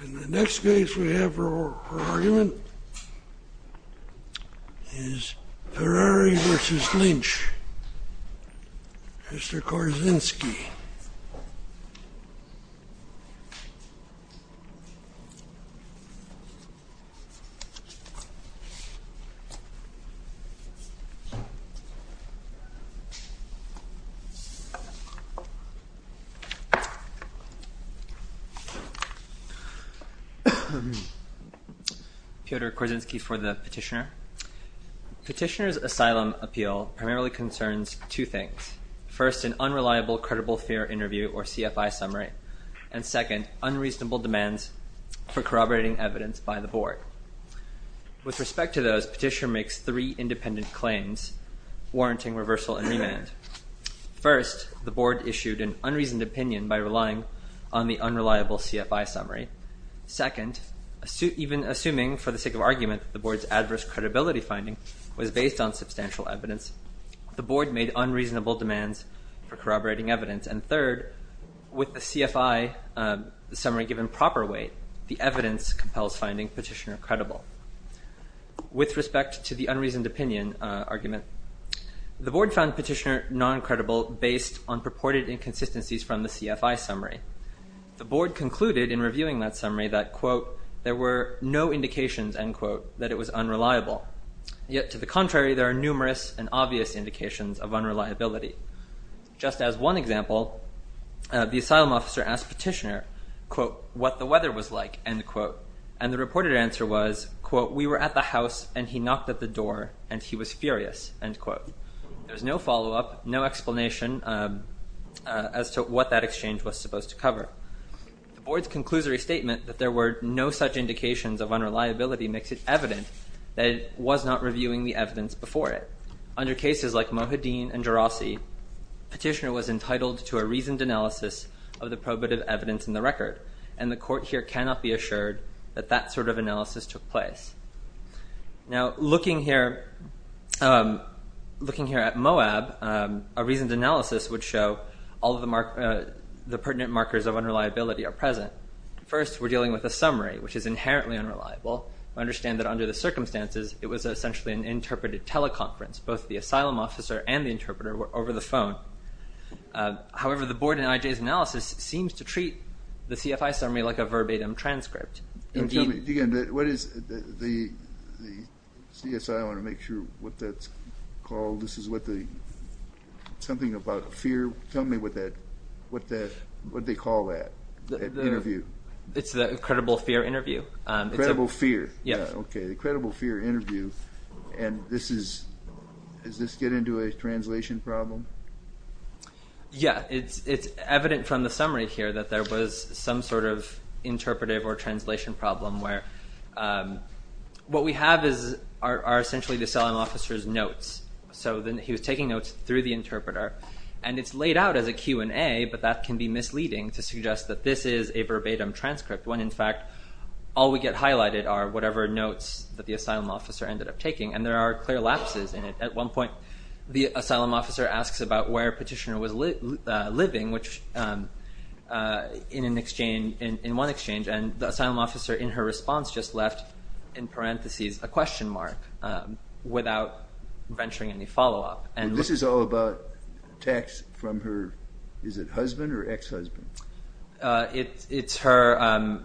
And the next case we have for argument is Ferrari v. Lynch, Mr. Korzynski. Peter Korzynski for the petitioner. Petitioner's asylum appeal primarily concerns two things. First, an unreliable credible fear interview or CFI summary. And second, unreasonable demands for corroborating evidence by the board. With respect to those, petitioner makes three independent claims warranting reversal and remand. First, the board issued an unreasoned opinion by relying on the unreliable CFI summary. Second, even assuming for the sake of argument the board's adverse credibility finding was based on substantial evidence, the board made unreasonable demands for corroborating evidence. And third, with the CFI summary given proper weight, the evidence compels finding petitioner credible. With respect to the unreasoned opinion argument, the board found petitioner non-credible based on purported inconsistencies from the CFI summary. The board concluded in reviewing that summary that, quote, there were no indications, end quote, that it was unreliable. Yet to the contrary, there are numerous and obvious indications of unreliability. Just as one example, the asylum officer asked petitioner, quote, what the weather was like, end quote. And the reported answer was, quote, we were at the house, and he knocked at the door, and he was furious, end quote. There was no follow-up, no explanation as to what that exchange was supposed to cover. The board's conclusory statement that there were no such indications of unreliability makes it evident that it was not reviewing the evidence before it. Under cases like Mohaddin and Jarossi, petitioner was entitled to a reasoned analysis of the probative evidence in the record. And the court here cannot be assured that that sort of analysis took place. Now, looking here at Moab, a reasoned analysis would show all of the pertinent markers of unreliability are present. First, we're dealing with a summary, which is inherently unreliable. We understand that under the circumstances, it was essentially an interpreted teleconference. Both the asylum officer and the interpreter were over the phone. However, the board in IJ's analysis seems to treat the CFI summary like a verbatim transcript. Tell me again, what is the CSI, I want to make sure what that's called. This is what the, something about fear. Tell me what that, what they call that interview. It's the credible fear interview. Credible fear. Yes. Okay, the credible fear interview. And this is, does this get into a translation problem? Yeah, it's evident from the summary here that there was some sort of interpretive or translation problem where what we have is, are essentially the asylum officer's notes. So then he was taking notes through the interpreter. And it's laid out as a Q&A, but that can be misleading to suggest that this is a verbatim transcript. When, in fact, all we get highlighted are whatever notes that the asylum officer ended up taking. And there are clear lapses in it. At one point, the asylum officer asks about where Petitioner was living, which, in an exchange, in one exchange. And the asylum officer, in her response, just left, in parentheses, a question mark without venturing any follow-up. And this is all about texts from her, is it husband or ex-husband? It's her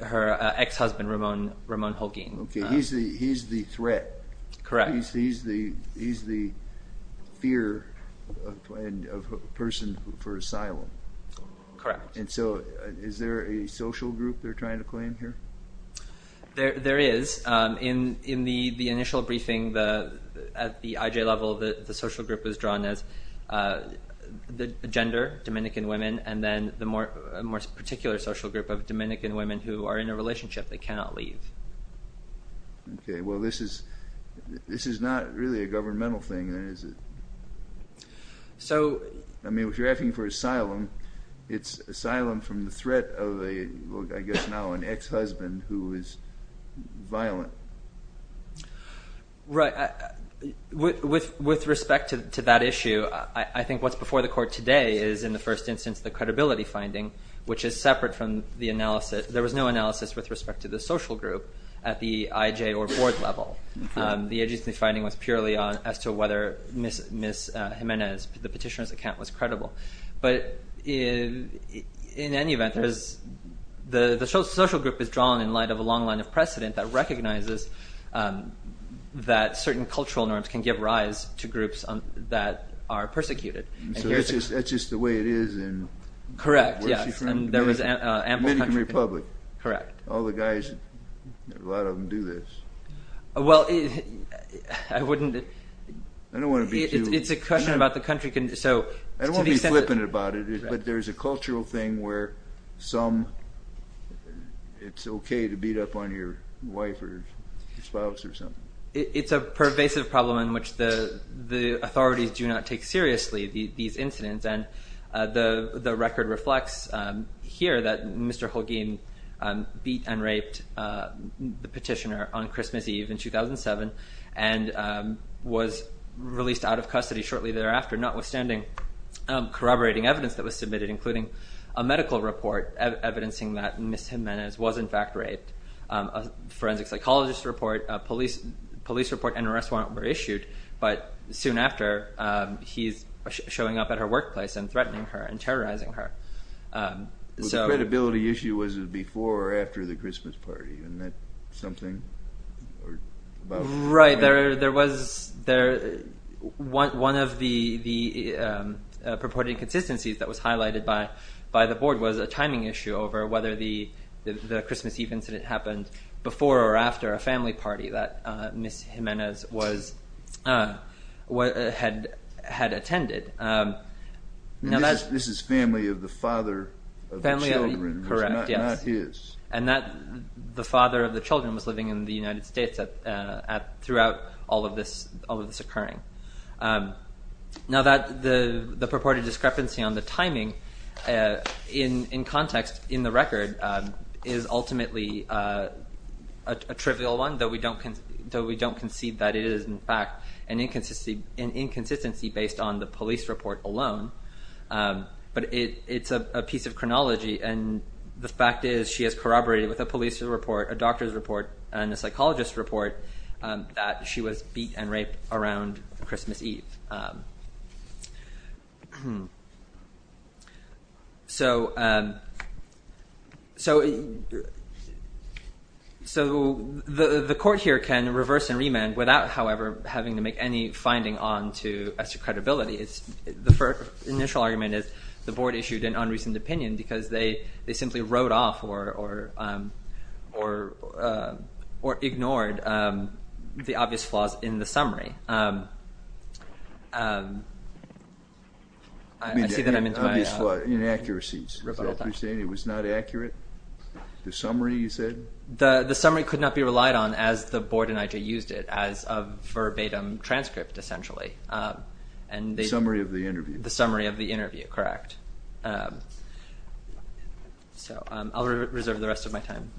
ex-husband, Ramon Holguin. Okay, he's the threat. Correct. He's the fear of a person for asylum. Correct. And so is there a social group they're trying to claim here? There is. In the initial briefing, at the IJ level, the social group is drawn as the gender, Dominican women, and then the more particular social group of Dominican women who are in a relationship, they cannot leave. Okay, well, this is not really a governmental thing, is it? I mean, if you're asking for asylum, it's asylum from the threat of, I guess now, an ex-husband who is violent. Right. With respect to that issue, I think what's before the court today is, in the first instance, the credibility finding, which is separate from the analysis. There was no analysis with respect to the social group at the IJ or board level. The IJ finding was purely as to whether Ms. Jimenez, the petitioner's account, was credible. But in any event, the social group is drawn in light of a long line of precedent that recognizes that certain cultural norms can give rise to groups that are persecuted. So that's just the way it is in where she's from? Correct, yes. Dominican Republic. Correct. All the guys, a lot of them do this. Well, I wouldn't... I don't want to be too... It's a question about the country. I don't want to be flippant about it, but there's a cultural thing where some, it's okay to beat up on your wife or spouse or something. It's a pervasive problem in which the authorities do not take seriously these incidents. And the record reflects here that Mr. Holguin beat and raped the petitioner on Christmas Eve in 2007 and was released out of custody shortly thereafter, notwithstanding corroborating evidence that was submitted, including a medical report evidencing that Ms. Jimenez was in fact raped, a forensic psychologist report, a police report and an arrest warrant were issued. But soon after, he's showing up at her workplace and threatening her and terrorizing her. The credibility issue was before or after the Christmas party, isn't that something? Right, there was... One of the purported inconsistencies that was highlighted by the board was a timing issue over whether the Christmas Eve incident happened before or after a family party that Ms. Jimenez had attended. This is family of the father of the children, not his. And the father of the children was living in the United States throughout all of this occurring. Now the purported discrepancy on the timing in context in the record is ultimately a trivial one, though we don't concede that it is in fact an inconsistency based on the police report alone. But it's a piece of chronology and the fact is she has corroborated with a police report, a doctor's report, and a psychologist report that she was beat and raped around Christmas Eve. So the court here can reverse and remand without, however, having to make any finding onto extra credibility. The initial argument is the board issued an unreasoned opinion because they simply wrote off or ignored the obvious flaws in the summary. Obvious flaws, inaccuracies. It was not accurate, the summary you said? The summary could not be relied on as the board and I.J. used it as a verbatim transcript essentially. The summary of the interview. The summary of the interview, correct. So I'll reserve the rest of my time.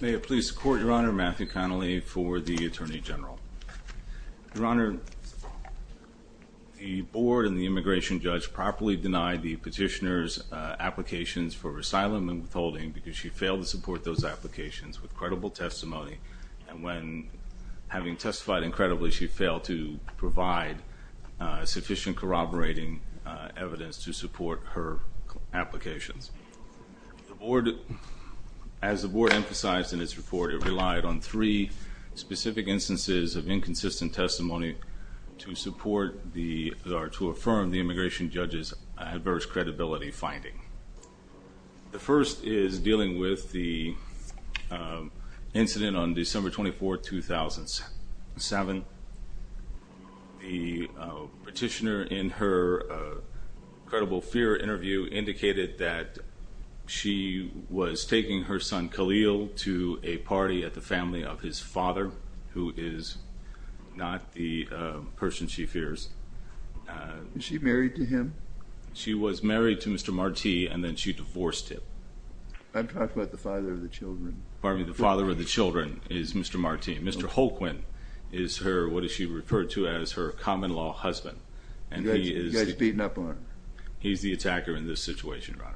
May it please the court, Your Honor, Matthew Connelly for the Attorney General. Your Honor, the board and the immigration judge properly denied the petitioner's applications for asylum and withholding because she failed to support those applications with credible testimony and when having testified incredibly she failed to provide sufficient corroborating evidence to support her applications. As the board emphasized in its report, it relied on three specific instances of inconsistent testimony to support or to affirm the immigration judge's adverse credibility finding. The first is dealing with the incident on December 24, 2007. The petitioner in her credible fear interview indicated that she was taking her son Khalil to a party at the family of his father who is not the person she fears. Is she married to him? She was married to Mr. Marti and then she divorced him. I'm talking about the father of the children. Pardon me, the father of the children is Mr. Marti. Mr. Holquin is her, what she referred to as her common law husband. You guys are beating up on her. He's the attacker in this situation, Your Honor.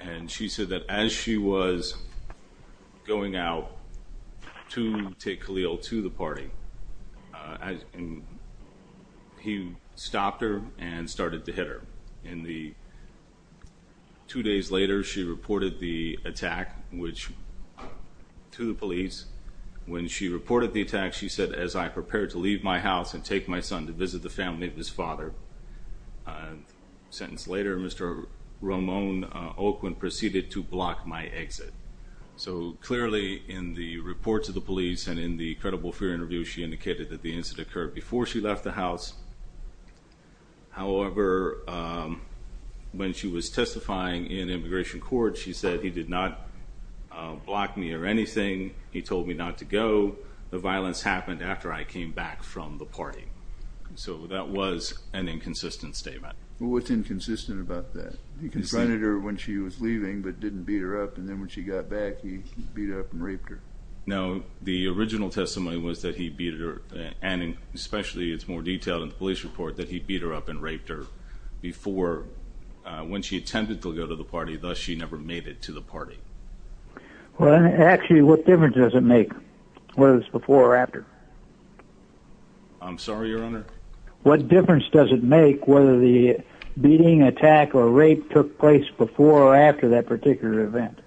And she said that as she was going out to take Khalil to the party he stopped her and started to hit her. Two days later she reported the attack to the police. When she reported the attack she said, as I prepared to leave my house and take my son to visit the family of his father, a sentence later Mr. Ramon Holquin proceeded to block my exit. So clearly in the report to the police and in the credible fear interview she indicated that the incident occurred before she left the house. However, when she was testifying in immigration court she said he did not block me or anything. He told me not to go. The violence happened after I came back from the party. So that was an inconsistent statement. What's inconsistent about that? He confronted her when she was leaving but didn't beat her up. And then when she got back he beat her up and raped her. Now the original testimony was that he beat her, and especially it's more detailed in the police report, that he beat her up and raped her before when she attempted to go to the party. Thus she never made it to the party. Actually, what difference does it make whether it was before or after? I'm sorry, Your Honor? What difference does it make whether the beating, attack, or rape took place before or after that particular event?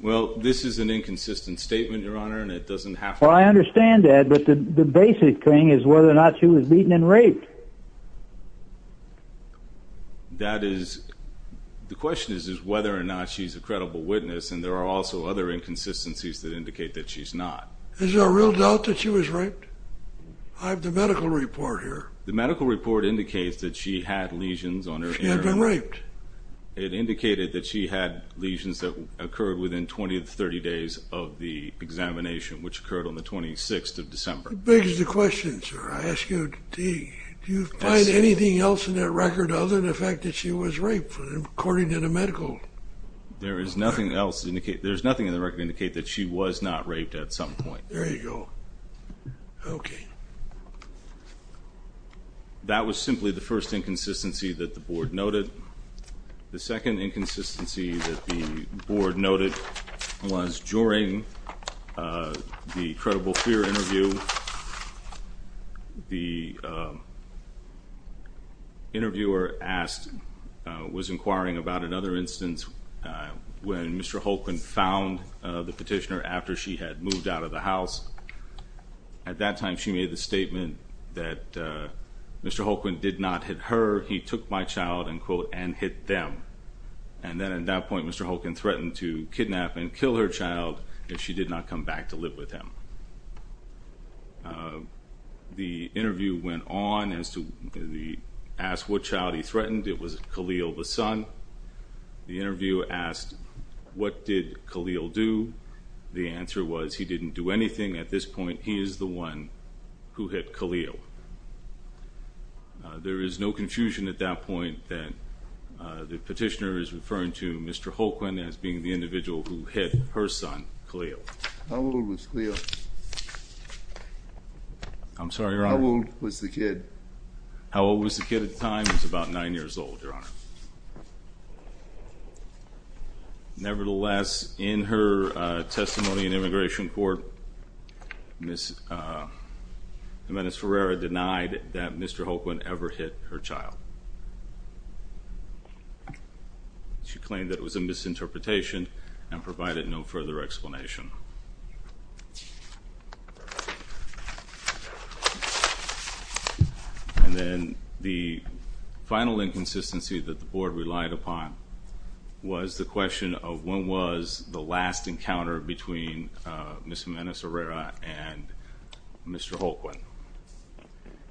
Well, this is an inconsistent statement, Your Honor, and it doesn't have to be. Well, I understand that, but the basic thing is whether or not she was beaten and raped. That is, the question is whether or not she's a credible witness, and there are also other inconsistencies that indicate that she's not. Is there a real doubt that she was raped? I have the medical report here. The medical report indicates that she had lesions on her ear. She had been raped. It indicated that she had lesions that occurred within 20 to 30 days of the examination, which occurred on the 26th of December. That begs the question, sir. I ask you, do you find anything else in that record other than the fact that she was raped, according to the medical report? There is nothing else in the record that indicates that she was not raped at some point. There you go. Okay. That was simply the first inconsistency that the Board noted. The second inconsistency that the Board noted was during the credible fear interview. The interviewer was inquiring about another instance when Mr. Holkman found the petitioner after she had moved out of the house. At that time she made the statement that Mr. Holkman did not hit her. He took my child and, quote, and hit them. And then at that point Mr. Holkman threatened to kidnap and kill her child if she did not come back to live with him. The interview went on as to the asked what child he threatened. It was Khalil, the son. The interviewer asked what did Khalil do. The answer was he didn't do anything. At this point he is the one who hit Khalil. There is no confusion at that point that the petitioner is referring to Mr. Holkman as being the individual who hit her son, Khalil. How old was Khalil? I'm sorry, Your Honor. How old was the kid? How old was the kid at the time? He was about nine years old, Your Honor. Nevertheless, in her testimony in immigration court, Ms. Jimenez-Ferreira denied that Mr. Holkman ever hit her child. She claimed that it was a misinterpretation and provided no further explanation. And then the final inconsistency that the Board relied upon was the question of when was the last encounter between Ms. Jimenez-Ferreira and Mr. Holkman.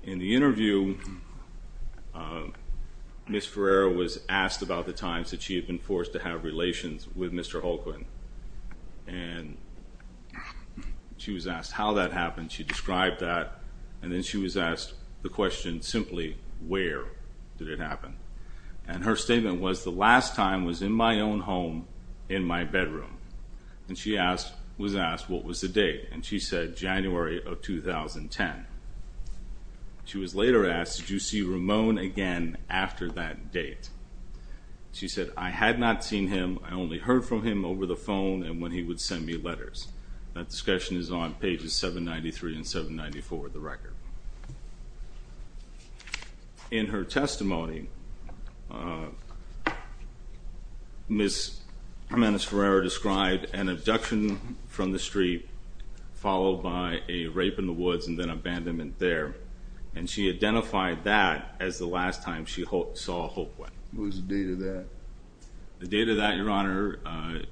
In the interview, Ms. Ferreira was asked about the times that she had been forced to have relations with Mr. Holkman. And she was asked how that happened. She described that. And then she was asked the question simply, where did it happen? And her statement was, the last time was in my own home in my bedroom. And she was asked what was the date. And she said January of 2010. She was later asked, did you see Ramon again after that date? She said, I had not seen him. I only heard from him over the phone and when he would send me letters. That discussion is on pages 793 and 794 of the record. In her testimony, Ms. Jimenez-Ferreira described an abduction from the street followed by a rape in the woods and then abandonment there. And she identified that as the last time she saw Holkman. What was the date of that? The date of that, Your Honor,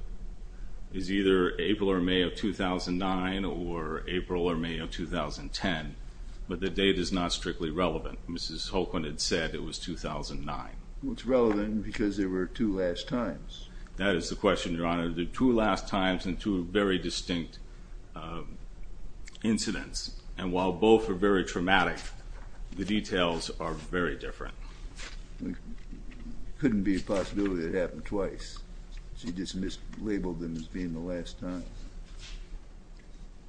is either April or May of 2009 or April or May of 2010. But the date is not strictly relevant. Mrs. Holkman had said it was 2009. Well, it's relevant because there were two last times. That is the question, Your Honor. There were two last times and two very distinct incidents. And while both are very traumatic, the details are very different. It couldn't be a possibility that it happened twice. She just mislabeled them as being the last times.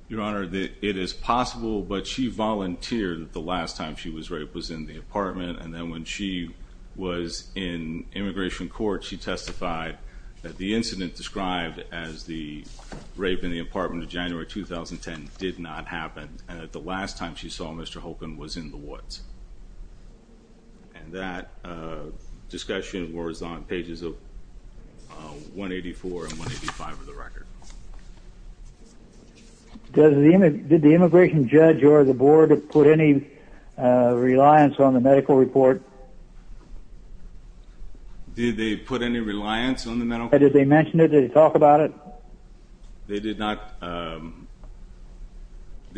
Your Honor, it is possible, but she volunteered that the last time she was raped was in the apartment. And then when she was in immigration court, she testified that the incident described as the rape in the apartment of January 2010 did not happen and that the last time she saw Mr. Holkman was in the woods. And that discussion was on pages of 184 and 185 of the record. Did the immigration judge or the board put any reliance on the medical report? Did they put any reliance on the medical report? Did they mention it? Did they talk about it? They did not. The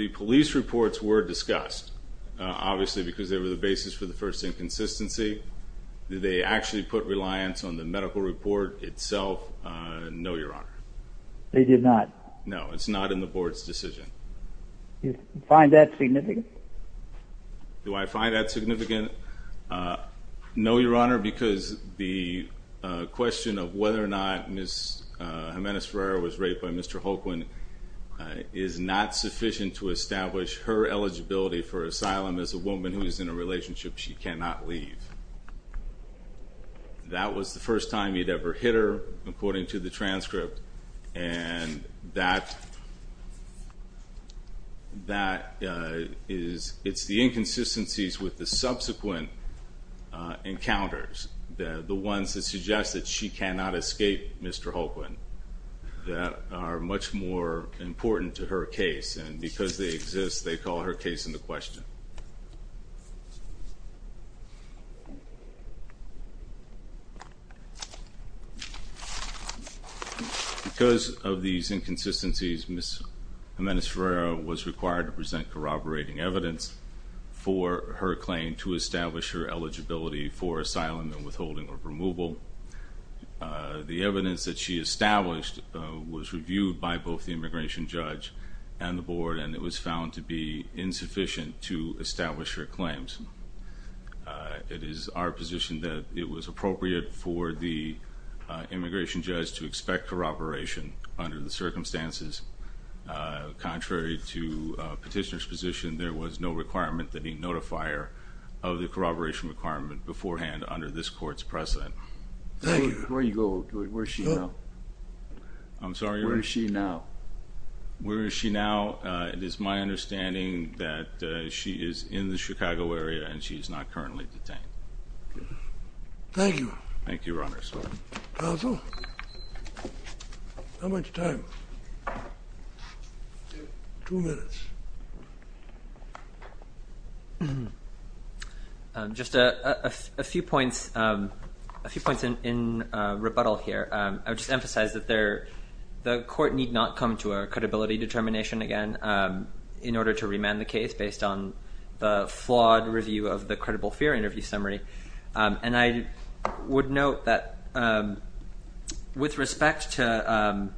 police reports were discussed, obviously, because they were the basis for the first inconsistency. Did they actually put reliance on the medical report itself? No, Your Honor. They did not. No, it's not in the board's decision. Do you find that significant? Do I find that significant? No, Your Honor, because the question of whether or not Ms. Jimenez-Ferreira was raped by Mr. Holkman is not sufficient to establish her eligibility for asylum as a woman who is in a relationship she cannot leave. That was the first time you'd ever hit her, according to the transcript, and that is the inconsistencies with the subsequent encounters, the ones that suggest that she cannot escape Mr. Holkman, that are much more important to her case, and because they exist, they call her case into question. Because of these inconsistencies, Ms. Jimenez-Ferreira was required to present corroborating evidence for her claim to establish her eligibility for asylum and withholding or removal. The evidence that she established was reviewed by both the immigration judge and the board, and it was found to be insufficient to establish her claims. It is our position that it was appropriate for the immigration judge to expect corroboration under the circumstances. Contrary to petitioner's position, there was no requirement that he notifier of the corroboration requirement beforehand under this court's precedent. Thank you. Where are you going? Where is she now? I'm sorry? Where is she now? Where is she now? It is my understanding that she is in the Chicago area, and she is not currently detained. Thank you. Thank you, Your Honor. Counsel? How much time? Two minutes. Just a few points in rebuttal here. I would just emphasize that the court need not come to a credibility determination again in order to remand the case based on the flawed review of the credible fear interview summary. And I would note that with respect to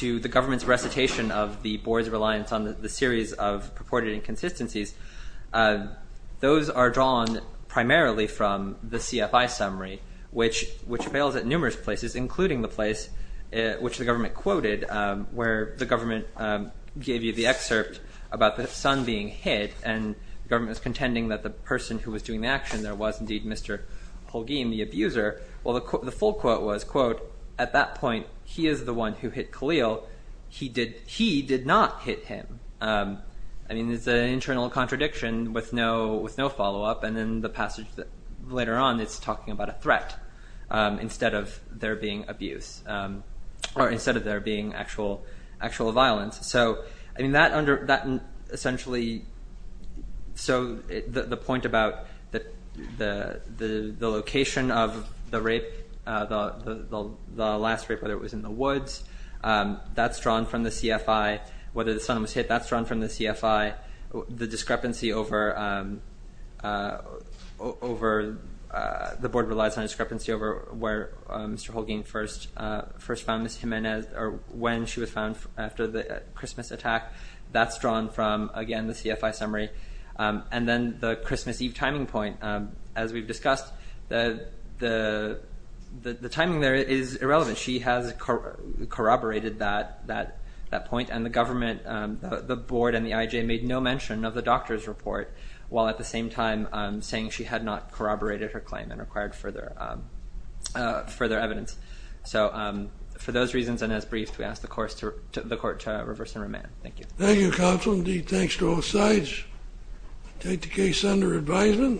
the government's recitation of the board's reliance on the series of purported inconsistencies, those are drawn primarily from the CFI summary, which fails at numerous places, including the place which the government quoted where the government gave you the excerpt about the son being hit, and the government was contending that the person who was doing the action, there was indeed Mr. Holguin, the abuser. Well, the full quote was, quote, at that point, he is the one who hit Khalil. He did not hit him. I mean, it's an internal contradiction with no follow-up. And in the passage later on, it's talking about a threat instead of there being abuse, or instead of there being actual violence. So, I mean, that essentially, so the point about the location of the rape, the last rape, whether it was in the woods, that's drawn from the CFI. Whether the son was hit, that's drawn from the CFI. The discrepancy over, the board relies on discrepancy over where Mr. Holguin first found Ms. Jimenez, or when she was found after the Christmas attack, that's drawn from, again, the CFI summary. And then the Christmas Eve timing point, as we've discussed, the timing there is irrelevant. She has corroborated that point, and the government, the board and the IJ made no mention of the doctor's report, while at the same time saying she had not corroborated her claim and required further evidence. So, for those reasons and as briefed, we ask the court to reverse and remand. Thank you. Thank you, Counsel. Indeed, thanks to all sides. I take the case under advisement.